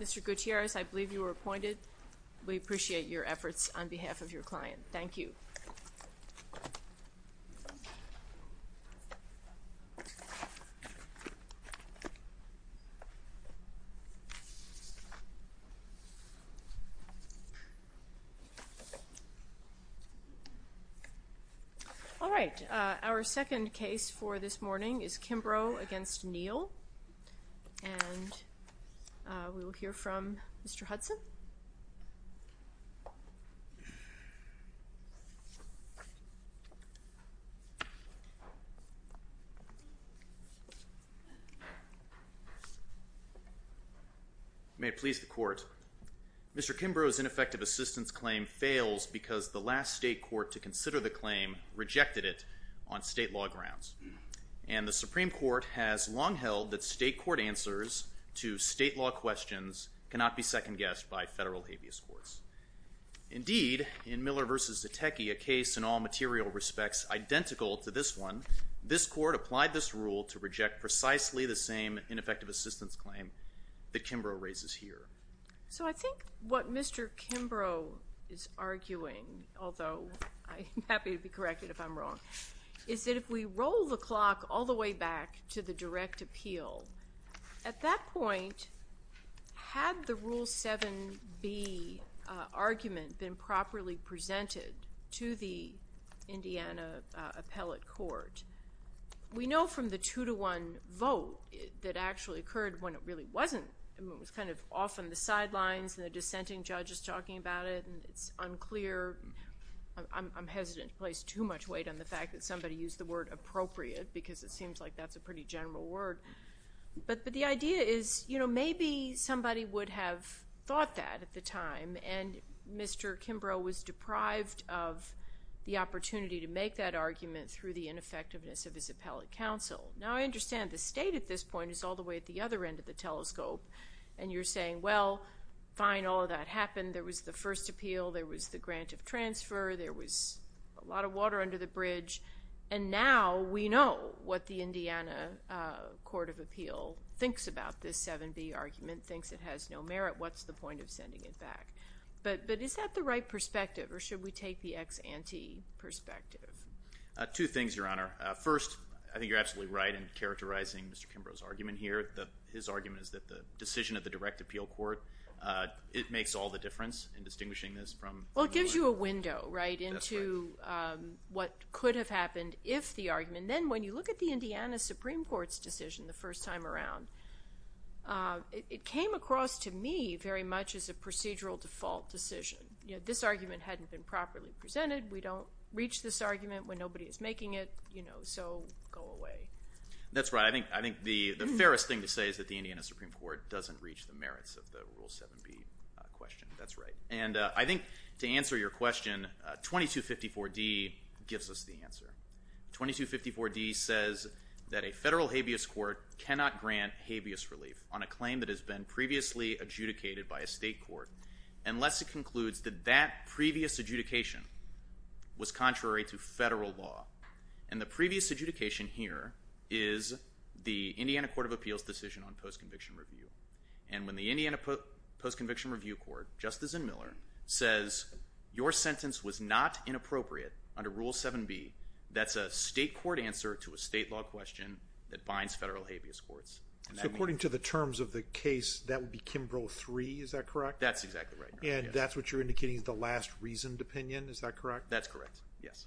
Mr. Gutierrez, I believe you were appointed. We appreciate your efforts on behalf of your client. Thank you. All right. Our second case for this morning is Kimbrough v. Neal. We will hear from Mr. Hudson. May it please the Court. Mr. Kimbrough's ineffective assistance claim fails because the last state court to consider the claim rejected it on state law grounds. And the Supreme Court has long held that state court answers to state law questions cannot be second-guessed by federal habeas courts. Indeed, in Miller v. Zetecki, a case in all material respects identical to this one, this Court applied this rule to reject precisely the same ineffective assistance claim that Kimbrough raises here. So I think what Mr. Kimbrough is arguing, although I'm happy to be corrected if I'm wrong, is that if we roll the clock all the way back to the direct appeal, at that point, had the Rule 7b argument been properly presented to the Indiana appellate court, we know from the two-to-one vote that actually occurred when it really wasn't. It was kind of off on the sidelines, and the dissenting judge is talking about it, and it's unclear. I'm hesitant to place too much weight on the fact that somebody used the word appropriate because it seems like that's a pretty general word. But the idea is, you know, maybe somebody would have thought that at the time, and Mr. Kimbrough was deprived of the opportunity to make that argument through the ineffectiveness of his appellate counsel. Now, I understand the state at this point is all the way at the other end of the telescope, and you're saying, well, fine, all of that happened. There was the first appeal. There was the grant of transfer. There was a lot of water under the bridge. And now we know what the Indiana Court of Appeal thinks about this 7b argument, thinks it has no merit. What's the point of sending it back? But is that the right perspective, or should we take the ex ante perspective? Two things, Your Honor. First, I think you're absolutely right in characterizing Mr. Kimbrough's argument here. His argument is that the decision of the direct appeal court, it makes all the difference in distinguishing this from the other. Well, it gives you a window, right, into what could have happened if the argument. And then when you look at the Indiana Supreme Court's decision the first time around, it came across to me very much as a procedural default decision. This argument hadn't been properly presented. We don't reach this argument when nobody is making it, so go away. That's right. I think the fairest thing to say is that the Indiana Supreme Court doesn't reach the merits of the Rule 7b question. That's right. 2254d says that a federal habeas court cannot grant habeas relief on a claim that has been previously adjudicated by a state court unless it concludes that that previous adjudication was contrary to federal law. And the previous adjudication here is the Indiana Court of Appeals' decision on post-conviction review. And when the Indiana Post-Conviction Review Court, just as in Miller, says your sentence was not inappropriate under Rule 7b, that's a state court answer to a state law question that binds federal habeas courts. So according to the terms of the case, that would be Kimbrough 3, is that correct? That's exactly right. And that's what you're indicating is the last reasoned opinion, is that correct? That's correct, yes.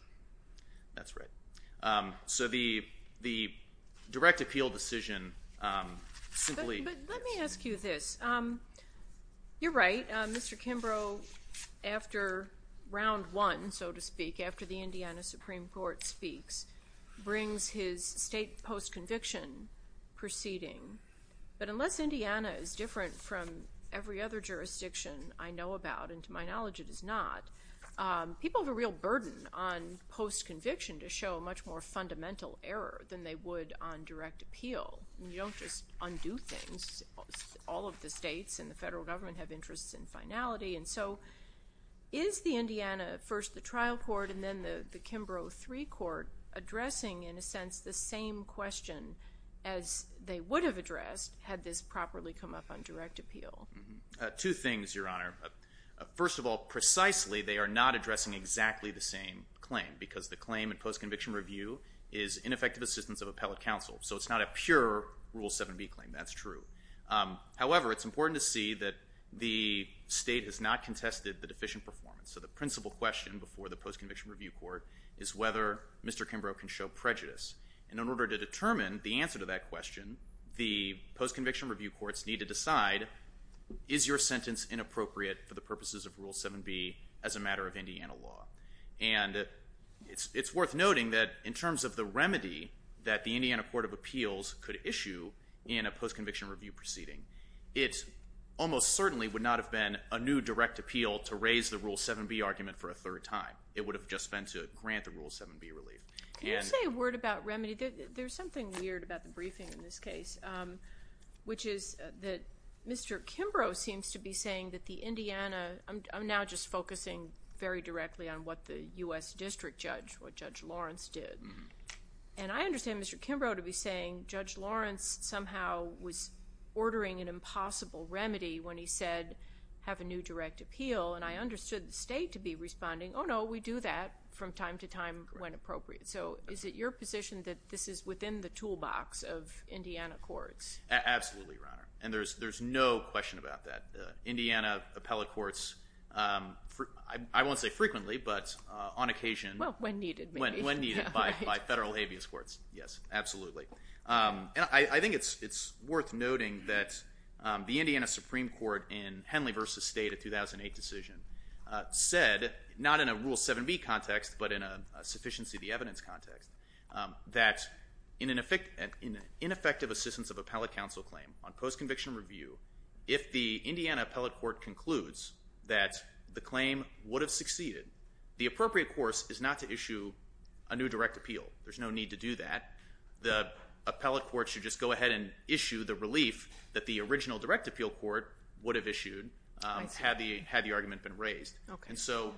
That's right. So the direct appeal decision simply... But let me ask you this. You're right. Mr. Kimbrough, after round one, so to speak, after the Indiana Supreme Court speaks, brings his state post-conviction proceeding. But unless Indiana is different from every other jurisdiction I know about, and to my knowledge it is not, people have a real burden on post-conviction to show much more fundamental error than they would on direct appeal. You don't just undo things. All of the states and the federal government have interests in finality. And so is the Indiana, first the trial court and then the Kimbrough 3 court, addressing in a sense the same question as they would have addressed had this properly come up on direct appeal? Two things, Your Honor. First of all, precisely they are not addressing exactly the same claim because the claim in post-conviction review is ineffective assistance of appellate counsel. So it's not a pure Rule 7b claim. That's true. However, it's important to see that the state has not contested the deficient performance. So the principal question before the post-conviction review court is whether Mr. Kimbrough can show prejudice. And in order to determine the answer to that question, the post-conviction review courts need to decide, is your sentence inappropriate for the purposes of Rule 7b as a matter of Indiana law? And it's worth noting that in terms of the remedy that the Indiana Court of Appeals could issue in a post-conviction review proceeding, it almost certainly would not have been a new direct appeal to raise the Rule 7b argument for a third time. It would have just been to grant the Rule 7b relief. Can you say a word about remedy? There's something weird about the briefing in this case, which is that Mr. Kimbrough seems to be saying that the Indiana, I'm now just focusing very directly on what the U.S. District Judge, what Judge Lawrence did. And I understand Mr. Kimbrough to be saying Judge Lawrence somehow was ordering an impossible remedy when he said have a new direct appeal. And I understood the state to be responding, oh, no, we do that from time to time when appropriate. So is it your position that this is within the toolbox of Indiana courts? Absolutely, Your Honor. And there's no question about that. Indiana appellate courts, I won't say frequently, but on occasion. Well, when needed. When needed by federal habeas courts, yes, absolutely. I think it's worth noting that the Indiana Supreme Court in Henley v. State, a 2008 decision, said not in a Rule 7b context, but in a sufficiency of the evidence context, that in an ineffective assistance of appellate counsel claim on post-conviction review, if the Indiana appellate court concludes that the claim would have succeeded, the appropriate course is not to issue a new direct appeal. There's no need to do that. The appellate court should just go ahead and issue the relief that the original direct appeal court would have issued had the argument been raised. And so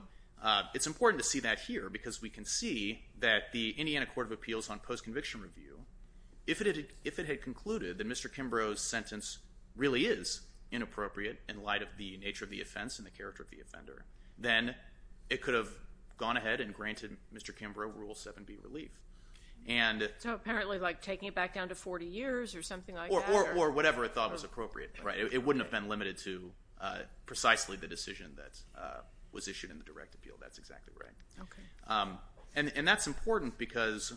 it's important to see that here because we can see that the Indiana Court of Appeals on post-conviction review, if it had concluded that Mr. Kimbrough's sentence really is inappropriate in light of the nature of the offense and the character of the offender, then it could have gone ahead and granted Mr. Kimbrough Rule 7b relief. So apparently like taking it back down to 40 years or something like that? Or whatever it thought was appropriate. It wouldn't have been limited to precisely the decision that was issued in the direct appeal. That's exactly right. And that's important because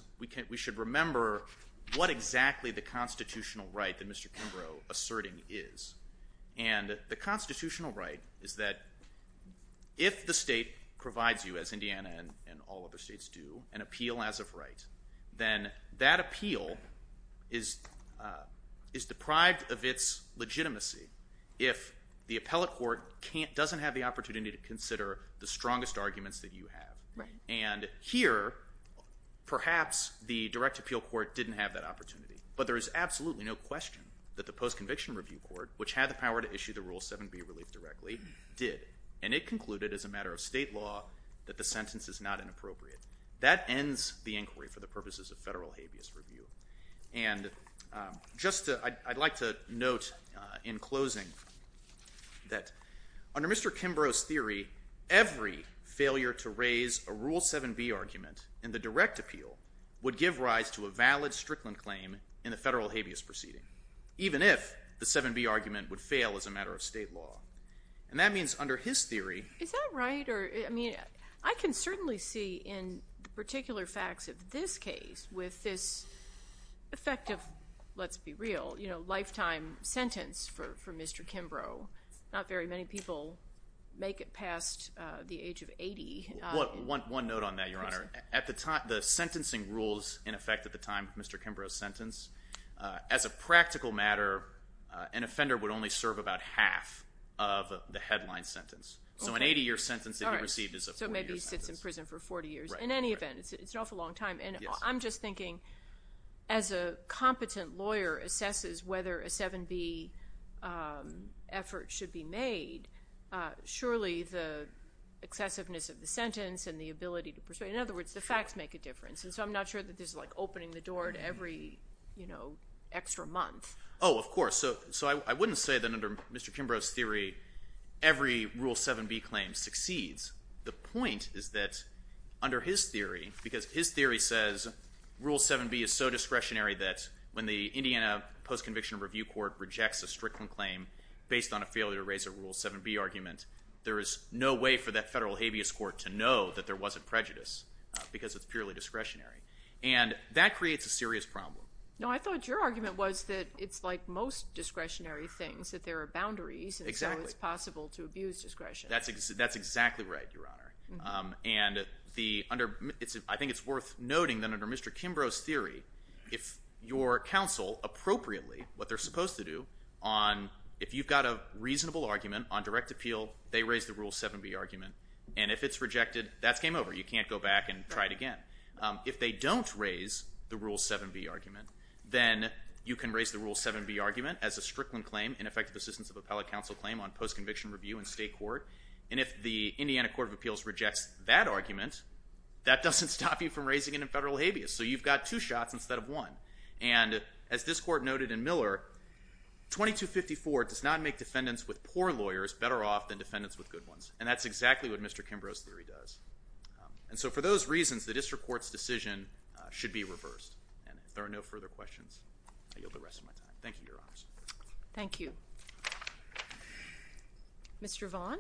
we should remember what exactly the constitutional right that Mr. Kimbrough asserting is. And the constitutional right is that if the state provides you, as Indiana and all other states do, an appeal as of right, then that appeal is deprived of its legitimacy if the appellate court doesn't have the opportunity to consider the strongest arguments that you have. And here, perhaps the direct appeal court didn't have that opportunity. But there is absolutely no question that the post-conviction review court, which had the power to issue the Rule 7b relief directly, did. And it concluded as a matter of state law that the sentence is not inappropriate. That ends the inquiry for the purposes of federal habeas review. And just I'd like to note in closing that under Mr. Kimbrough's theory, every failure to raise a Rule 7b argument in the direct appeal would give rise to a valid Strickland claim in the federal habeas proceeding, even if the 7b argument would fail as a matter of state law. And that means under his theory Is that right? I can certainly see in particular facts of this case with this effective, let's be real, lifetime sentence for Mr. Kimbrough, not very many people make it past the age of 80. One note on that, Your Honor. At the time, the sentencing rules in effect at the time of Mr. Kimbrough's sentence, as a practical matter, an offender would only serve about half of the headline sentence. So an 80-year sentence that he received is a 40-year sentence. So maybe he sits in prison for 40 years. In any event, it's an awful long time. And I'm just thinking as a competent lawyer assesses whether a 7b effort should be made, surely the excessiveness of the sentence and the ability to persuade, in other words, the facts make a difference. And so I'm not sure that this is like opening the door to every extra month. Oh, of course. So I wouldn't say that under Mr. Kimbrough's theory every Rule 7b claim succeeds. The point is that under his theory, because his theory says Rule 7b is so discretionary that when the Indiana Post-Conviction Review Court rejects a Strickland claim based on a failure to raise a Rule 7b argument, there is no way for that federal habeas court to know that there wasn't prejudice because it's purely discretionary. And that creates a serious problem. No, I thought your argument was that it's like most discretionary things, that there are boundaries and so it's possible to abuse discretion. That's exactly right, Your Honor. And I think it's worth noting that under Mr. Kimbrough's theory, if your counsel appropriately, what they're supposed to do, if you've got a reasonable argument on direct appeal, they raise the Rule 7b argument. And if it's rejected, that's game over. You can't go back and try it again. If they don't raise the Rule 7b argument, then you can raise the Rule 7b argument as a Strickland claim, an effective assistance of appellate counsel claim on post-conviction review in state court. And if the Indiana Court of Appeals rejects that argument, that doesn't stop you from raising it in federal habeas. So you've got two shots instead of one. And as this court noted in Miller, 2254 does not make defendants with poor lawyers better off than defendants with good ones. And that's exactly what Mr. Kimbrough's theory does. And so for those reasons, the district court's decision should be reversed. And if there are no further questions, I yield the rest of my time. Thank you, Your Honors. Thank you. Mr. Vaughn?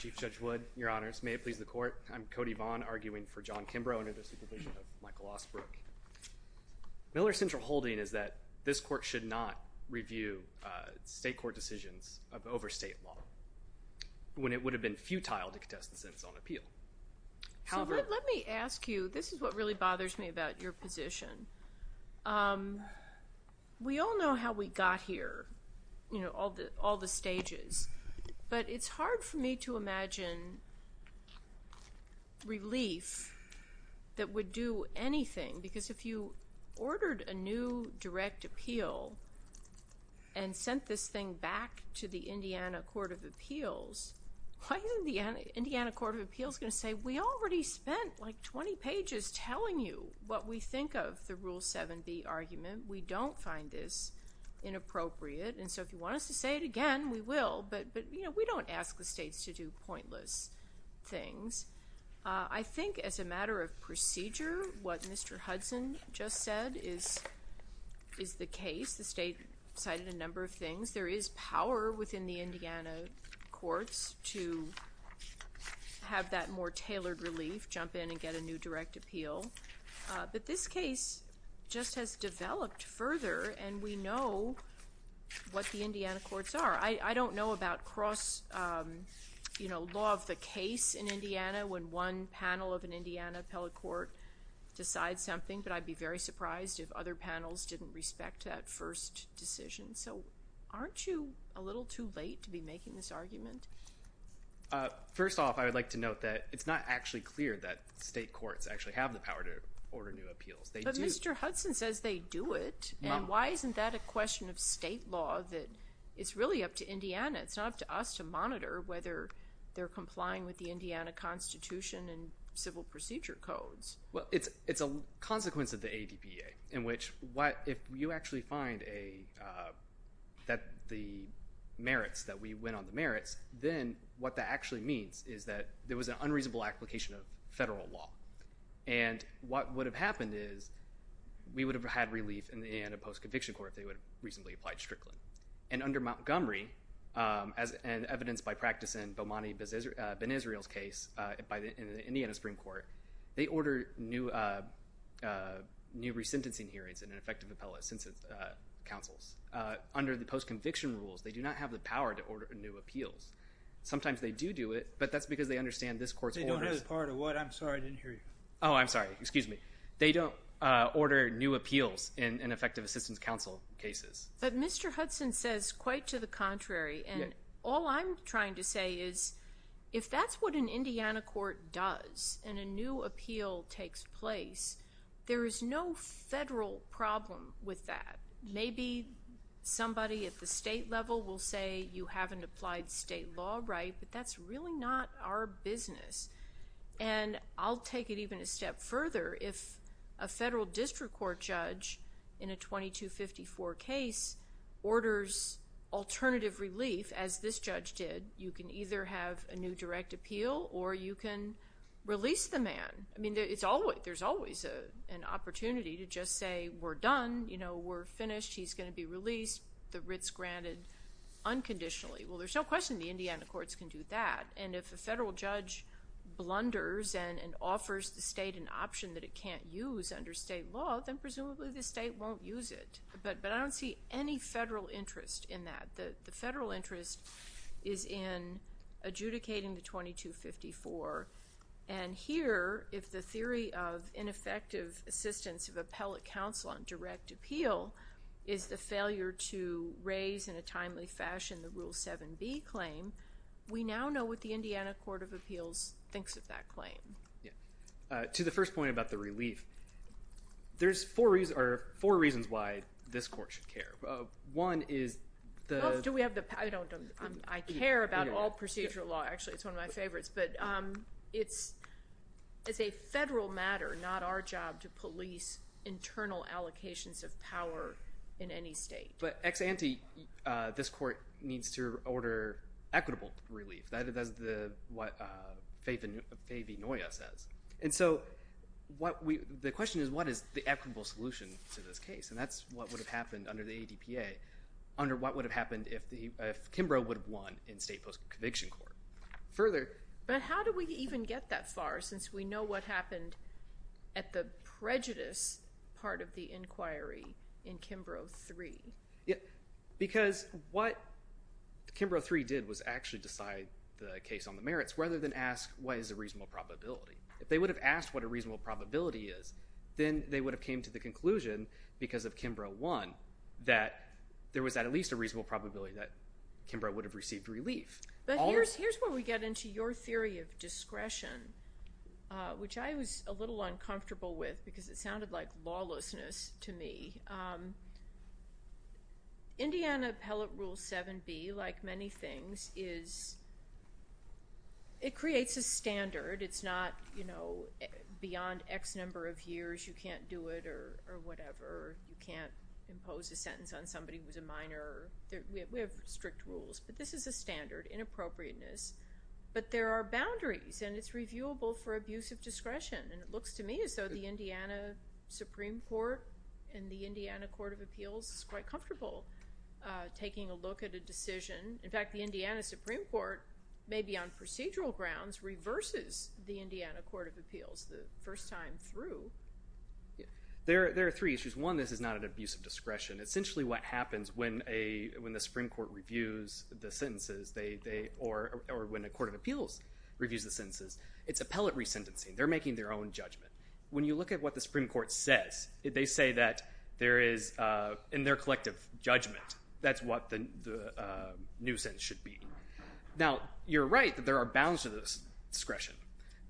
Chief Judge Wood, Your Honors, may it please the Court, I'm Cody Vaughn arguing for John Kimbrough under the supervision of Michael Osbrook. Miller's central holding is that this court should not review state court decisions of overstate law when it would have been futile to contest the sentence on appeal. Let me ask you, this is what really bothers me about your position. We all know how we got here, you know, all the stages. But it's hard for me to imagine relief that would do anything. Because if you ordered a new direct appeal and sent this thing back to the Indiana Court of Appeals, why isn't the Indiana Court of Appeals going to say, we already spent, like, 20 pages telling you what we think of the Rule 7b argument. We don't find this inappropriate. And so if you want us to say it again, we will. But, you know, we don't ask the states to do pointless things. I think as a matter of procedure, what Mr. Hudson just said is the case. The state cited a number of things. There is power within the Indiana courts to have that more tailored relief, jump in and get a new direct appeal. But this case just has developed further, and we know what the Indiana courts are. I don't know about cross, you know, law of the case in Indiana, when one panel of an Indiana appellate court decides something. But I'd be very surprised if other panels didn't respect that first decision. So aren't you a little too late to be making this argument? First off, I would like to note that it's not actually clear that state courts actually have the power to order new appeals. But Mr. Hudson says they do it, and why isn't that a question of state law that it's really up to Indiana? It's not up to us to monitor whether they're complying with the Indiana Constitution and civil procedure codes. Well, it's a consequence of the ADPA in which if you actually find that the merits, that we went on the merits, then what that actually means is that there was an unreasonable application of federal law. And what would have happened is we would have had relief in the Indiana post-conviction court if they would have reasonably applied strictly. And under Montgomery, as evidenced by practice in Bomani Ben-Israel's case in the Indiana Supreme Court, they ordered new resentencing hearings and an effective appellate census councils. Under the post-conviction rules, they do not have the power to order new appeals. Sometimes they do do it, but that's because they understand this court's orders. They don't have the power to what? I'm sorry, I didn't hear you. Oh, I'm sorry. Excuse me. They don't order new appeals in effective assistance council cases. But Mr. Hudson says quite to the contrary. And all I'm trying to say is if that's what an Indiana court does and a new appeal takes place, there is no federal problem with that. Maybe somebody at the state level will say you haven't applied state law right, but that's really not our business. And I'll take it even a step further. If a federal district court judge in a 2254 case orders alternative relief, as this judge did, you can either have a new direct appeal or you can release the man. I mean, there's always an opportunity to just say we're done, we're finished, he's going to be released, the writ's granted unconditionally. Well, there's no question the Indiana courts can do that. And if a federal judge blunders and offers the state an option that it can't use under state law, then presumably the state won't use it. But I don't see any federal interest in that. The federal interest is in adjudicating the 2254. And here, if the theory of ineffective assistance of appellate counsel on direct appeal is the failure to raise in a timely fashion the Rule 7b claim, we now know what the Indiana Court of Appeals thinks of that claim. To the first point about the relief, there's four reasons why this court should care. One is the... I care about all procedural law. Actually, it's one of my favorites. But it's a federal matter, not our job to police internal allocations of power in any state. But ex ante, this court needs to order equitable relief. That is what Faye V. Noya says. And so the question is, what is the equitable solution to this case? And that's what would have happened under the ADPA, under what would have happened if Kimbrough would have won in state post-conviction court. Further... But how do we even get that far since we know what happened at the prejudice part of the inquiry in Kimbrough 3? Because what Kimbrough 3 did was actually decide the case on the merits rather than ask what is the reasonable probability. If they would have asked what a reasonable probability is, then they would have came to the conclusion because of Kimbrough 1 that there was at least a reasonable probability that Kimbrough would have received relief. But here's where we get into your theory of discretion, which I was a little uncomfortable with because it sounded like lawlessness to me. Indiana Appellate Rule 7b, like many things, is... It creates a standard. It's not, you know, beyond X number of years you can't do it or whatever. You can't impose a sentence on somebody who's a minor. We have strict rules. But this is a standard, inappropriateness. But there are boundaries, and it's reviewable for abuse of discretion. And it looks to me as though the Indiana Supreme Court and the Indiana Court of Appeals is quite comfortable taking a look at a decision. In fact, the Indiana Supreme Court, maybe on procedural grounds, reverses the Indiana Court of Appeals the first time through. There are three issues. One, this is not an abuse of discretion. Essentially what happens when the Supreme Court reviews the sentences or when the Court of Appeals reviews the sentences, it's appellate resentencing. They're making their own judgment. When you look at what the Supreme Court says, they say that there is, in their collective judgment, that's what the new sentence should be. Now, you're right that there are bounds to this discretion.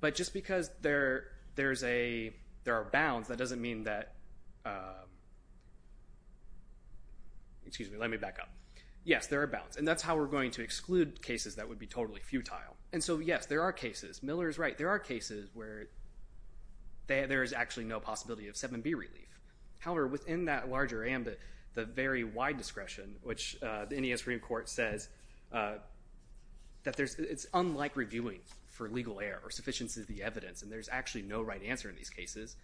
But just because there are bounds, that doesn't mean that, excuse me, let me back up. Yes, there are bounds. And that's how we're going to exclude cases that would be totally futile. And so, yes, there are cases. Miller is right. There are cases where there is actually no possibility of 7B relief. However, within that larger ambit, the very wide discretion, which the Indiana Supreme Court says that it's unlike reviewing for legal error, or sufficiency of the evidence, and there's actually no right answer in these cases,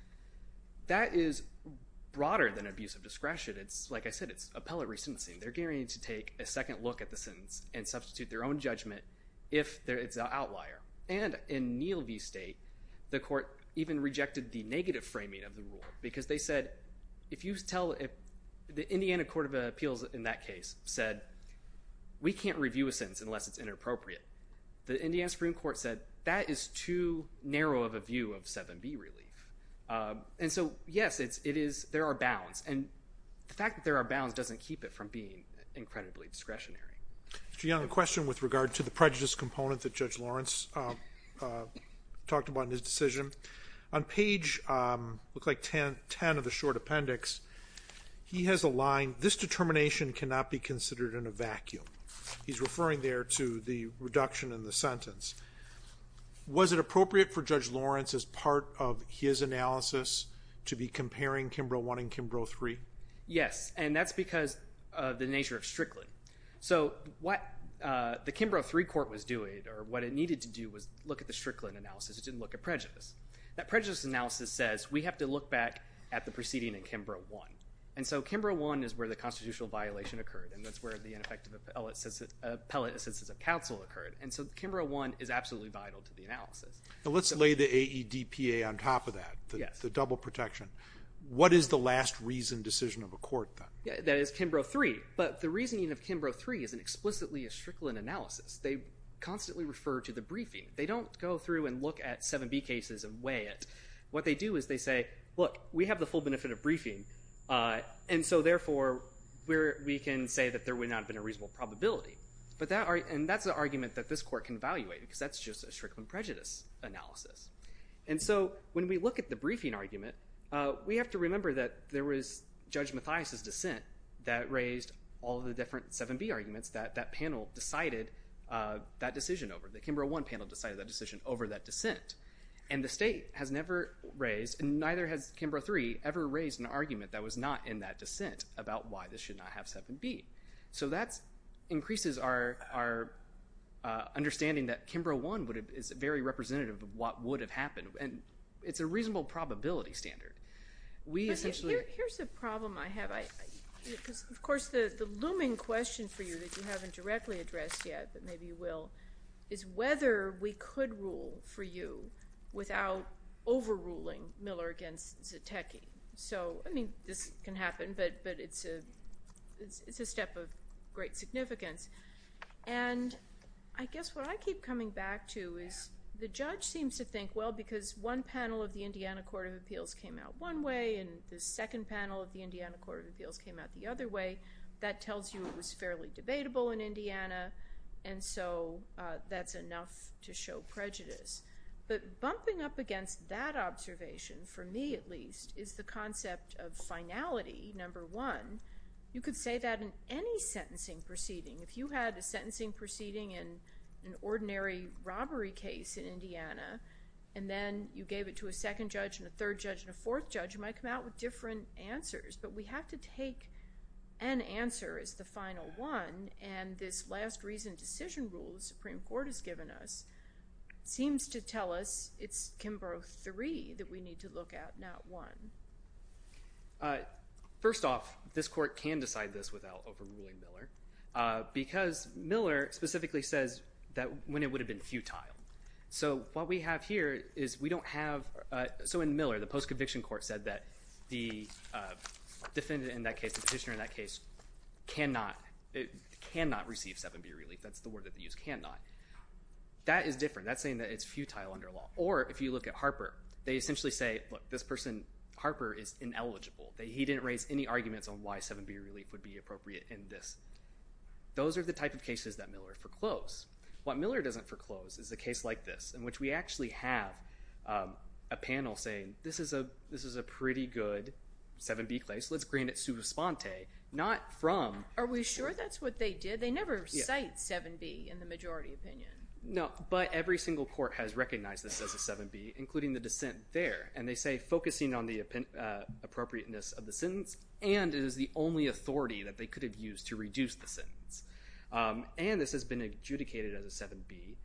that is broader than abuse of discretion. It's, like I said, it's appellate resentencing. They're gearing to take a second look at the sentence and substitute their own judgment if it's an outlier. And in Neal v. State, the court even rejected the negative framing of the rule because they said if you tell the Indiana Court of Appeals in that case said, we can't review a sentence unless it's inappropriate. The Indiana Supreme Court said that is too narrow of a view of 7B relief. And so, yes, there are bounds. And the fact that there are bounds doesn't keep it from being incredibly discretionary. Mr. Young, a question with regard to the prejudice component that Judge Lawrence talked about in his decision. On page, looks like 10 of the short appendix, he has a line, this determination cannot be considered in a vacuum. He's referring there to the reduction in the sentence. Was it appropriate for Judge Lawrence as part of his analysis to be comparing Kimbrough I and Kimbrough III? Yes, and that's because of the nature of Strickland. So what the Kimbrough III court was doing, or what it needed to do was look at the Strickland analysis. It didn't look at prejudice. That prejudice analysis says we have to look back at the proceeding in Kimbrough I. And so Kimbrough I is where the constitutional violation occurred, and that's where the ineffective appellate assistance of counsel occurred. And so Kimbrough I is absolutely vital to the analysis. Let's lay the AEDPA on top of that, the double protection. What is the last reasoned decision of a court then? That is Kimbrough III, but the reasoning of Kimbrough III isn't explicitly a Strickland analysis. They constantly refer to the briefing. They don't go through and look at 7B cases and weigh it. What they do is they say, look, we have the full benefit of briefing, and so therefore we can say that there would not have been a reasonable probability. And that's an argument that this court can evaluate because that's just a Strickland prejudice analysis. And so when we look at the briefing argument, we have to remember that there was Judge Mathias' dissent that raised all the different 7B arguments that that panel decided that decision over, the Kimbrough I panel decided that decision over that dissent. And the state has never raised, and neither has Kimbrough III, ever raised an argument that was not in that dissent about why this should not have 7B. So that increases our understanding that Kimbrough I is very representative of what would have happened, and it's a reasonable probability standard. Here's a problem I have. Of course, the looming question for you that you haven't directly addressed yet, but maybe you will, is whether we could rule for you without overruling Miller against Zetecki. So, I mean, this can happen, but it's a step of great significance. And I guess what I keep coming back to is the judge seems to think, well, because one panel of the Indiana Court of Appeals came out one way and the second panel of the Indiana Court of Appeals came out the other way, that tells you it was fairly debatable in Indiana, and so that's enough to show prejudice. But bumping up against that observation, for me at least, is the concept of finality, number one. You could say that in any sentencing proceeding. If you had a sentencing proceeding in an ordinary robbery case in Indiana and then you gave it to a second judge and a third judge and a fourth judge, you might come out with different answers, but we have to take an answer as the final one, and this last reason decision rule the Supreme Court has given us seems to tell us it's Kimbrough III that we need to look at, not I. First off, this court can decide this without overruling Miller because Miller specifically says that when it would have been futile. So what we have here is we don't have – so in Miller, the post-conviction court said that the defendant in that case, the petitioner in that case, cannot receive 7B relief. That's the word that they use, cannot. That is different. That's saying that it's futile under law. Or if you look at Harper, they essentially say, look, this person, Harper, is ineligible. He didn't raise any arguments on why 7B relief would be appropriate in this. Those are the type of cases that Miller foreclosed. What Miller doesn't foreclose is a case like this in which we actually have a panel saying, this is a pretty good 7B case. Let's grant it sui responde, not from. Are we sure that's what they did? They never cite 7B in the majority opinion. No, but every single court has recognized this as a 7B, including the dissent there. And they say focusing on the appropriateness of the sentence and it is the only authority that they could have used to reduce the sentence. And this has been adjudicated as a 7B.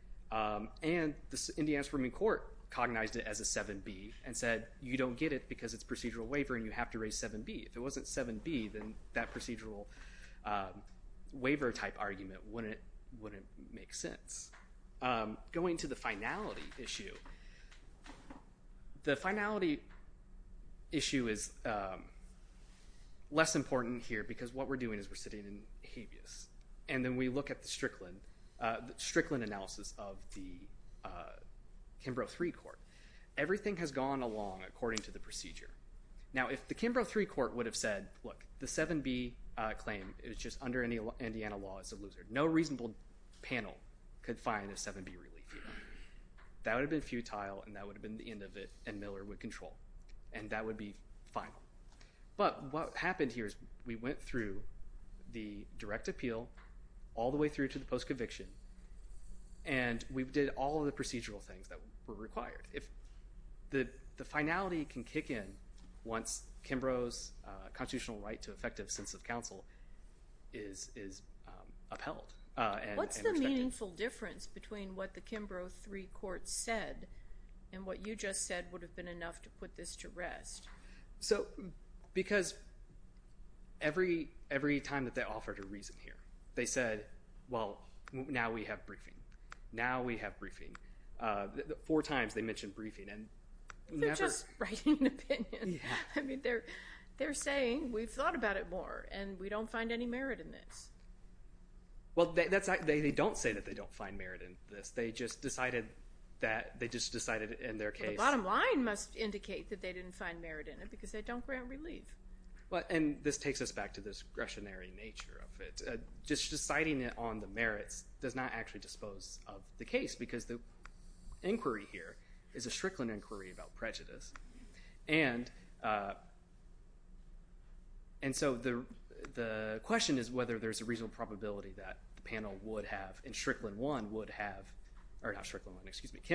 And the Indiana Supreme Court cognized it as a 7B and said, you don't get it because it's procedural waiver and you have to raise 7B. If it wasn't 7B, then that procedural waiver type argument wouldn't make sense. Going to the finality issue, the finality issue is less important here because what we're doing is we're sitting in habeas. And then we look at the Strickland analysis of the Kimbrough III Court. Everything has gone along according to the procedure. Now, if the Kimbrough III Court would have said, look, the 7B claim is just under Indiana law, it's a loser. No reasonable panel could find a 7B relief here. That would have been futile and that would have been the end of it and Miller would control. And that would be final. But what happened here is we went through the direct appeal all the way through to the post-conviction and we did all of the procedural things that were required. The finality can kick in once Kimbrough's constitutional right to effective sense of counsel is upheld. What's the meaningful difference between what the Kimbrough III Court said and what you just said would have been enough to put this to rest? Because every time that they offered a reason here, they said, well, now we have briefing. Now we have briefing. Four times they mentioned briefing. They're just writing an opinion. I mean, they're saying we've thought about it more and we don't find any merit in this. Well, they don't say that they don't find merit in this. They just decided in their case. The bottom line must indicate that they didn't find merit in it because they don't grant relief. And this takes us back to this discretionary nature of it. Just deciding it on the merits does not actually dispose of the case because the inquiry here is a Strickland inquiry about prejudice. And so the question is whether there's a reasonable probability that the panel would have and Kimbrough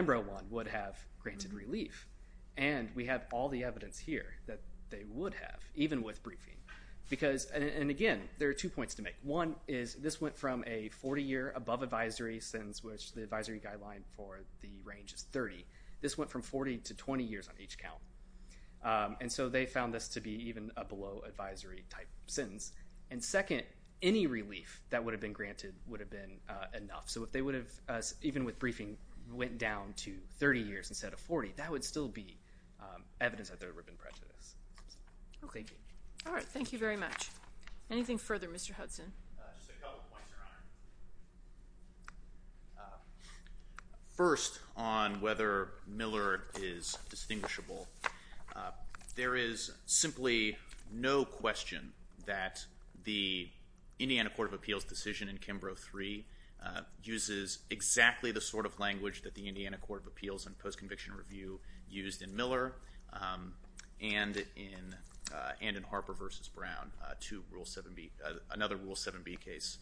I would have granted relief. And we have all the evidence here that they would have, even with briefing. And, again, there are two points to make. One is this went from a 40-year above advisory sentence, which the advisory guideline for the range is 30. This went from 40 to 20 years on each count. And so they found this to be even a below advisory type sentence. And, second, any relief that would have been granted would have been enough. So if they would have, even with briefing, went down to 30 years instead of 40, that would still be evidence that there would have been prejudice. Thank you. All right. Thank you very much. Anything further, Mr. Hudson? Just a couple of points, Your Honor. First, on whether Miller is distinguishable, there is simply no question that the Indiana Court of Appeals decision in Kimbrough III uses exactly the sort of language that the Indiana Court of Appeals and post-conviction review used in Miller and in Harper v. Brown, another Rule 7b case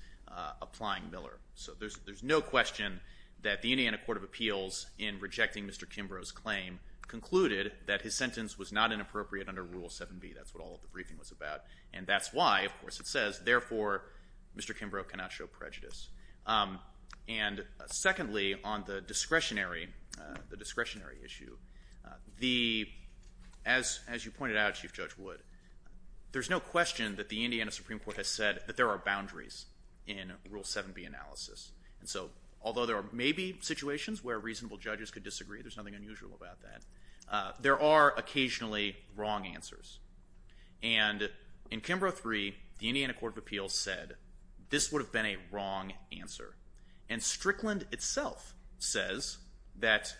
applying Miller. So there's no question that the Indiana Court of Appeals, in rejecting Mr. Kimbrough's claim, concluded that his sentence was not inappropriate under Rule 7b. That's what all of the briefing was about. And that's why, of course, it says, therefore Mr. Kimbrough cannot show prejudice. And, secondly, on the discretionary issue, as you pointed out, Chief Judge Wood, there's no question that the Indiana Supreme Court has said that there are boundaries in Rule 7b analysis. And so although there may be situations where reasonable judges could disagree, there's nothing unusual about that, there are occasionally wrong answers. And in Kimbrough III, the Indiana Court of Appeals said this would have been a wrong answer. And Strickland itself says that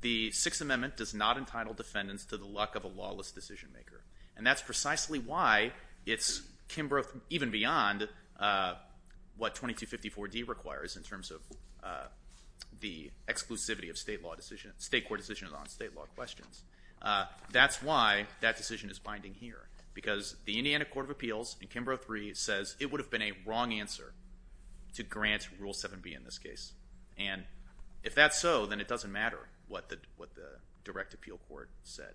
the Sixth Amendment does not entitle defendants to the luck of a lawless decision maker. And that's precisely why it's Kimbrough, even beyond what 2254d requires in terms of the exclusivity of state court decisions on state law questions. That's why that decision is binding here, because the Indiana Court of Appeals in Kimbrough III says it would have been a wrong answer to grant Rule 7b in this case. And if that's so, then it doesn't matter what the direct appeal court said.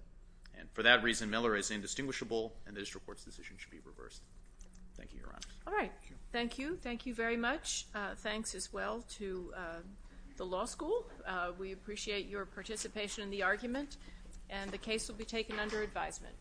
And for that reason, Miller is indistinguishable, and the district court's decision should be reversed. Thank you, Your Honor. All right. Thank you. Thank you very much. Thanks as well to the law school. We appreciate your participation in the argument, and the case will be taken under advisement.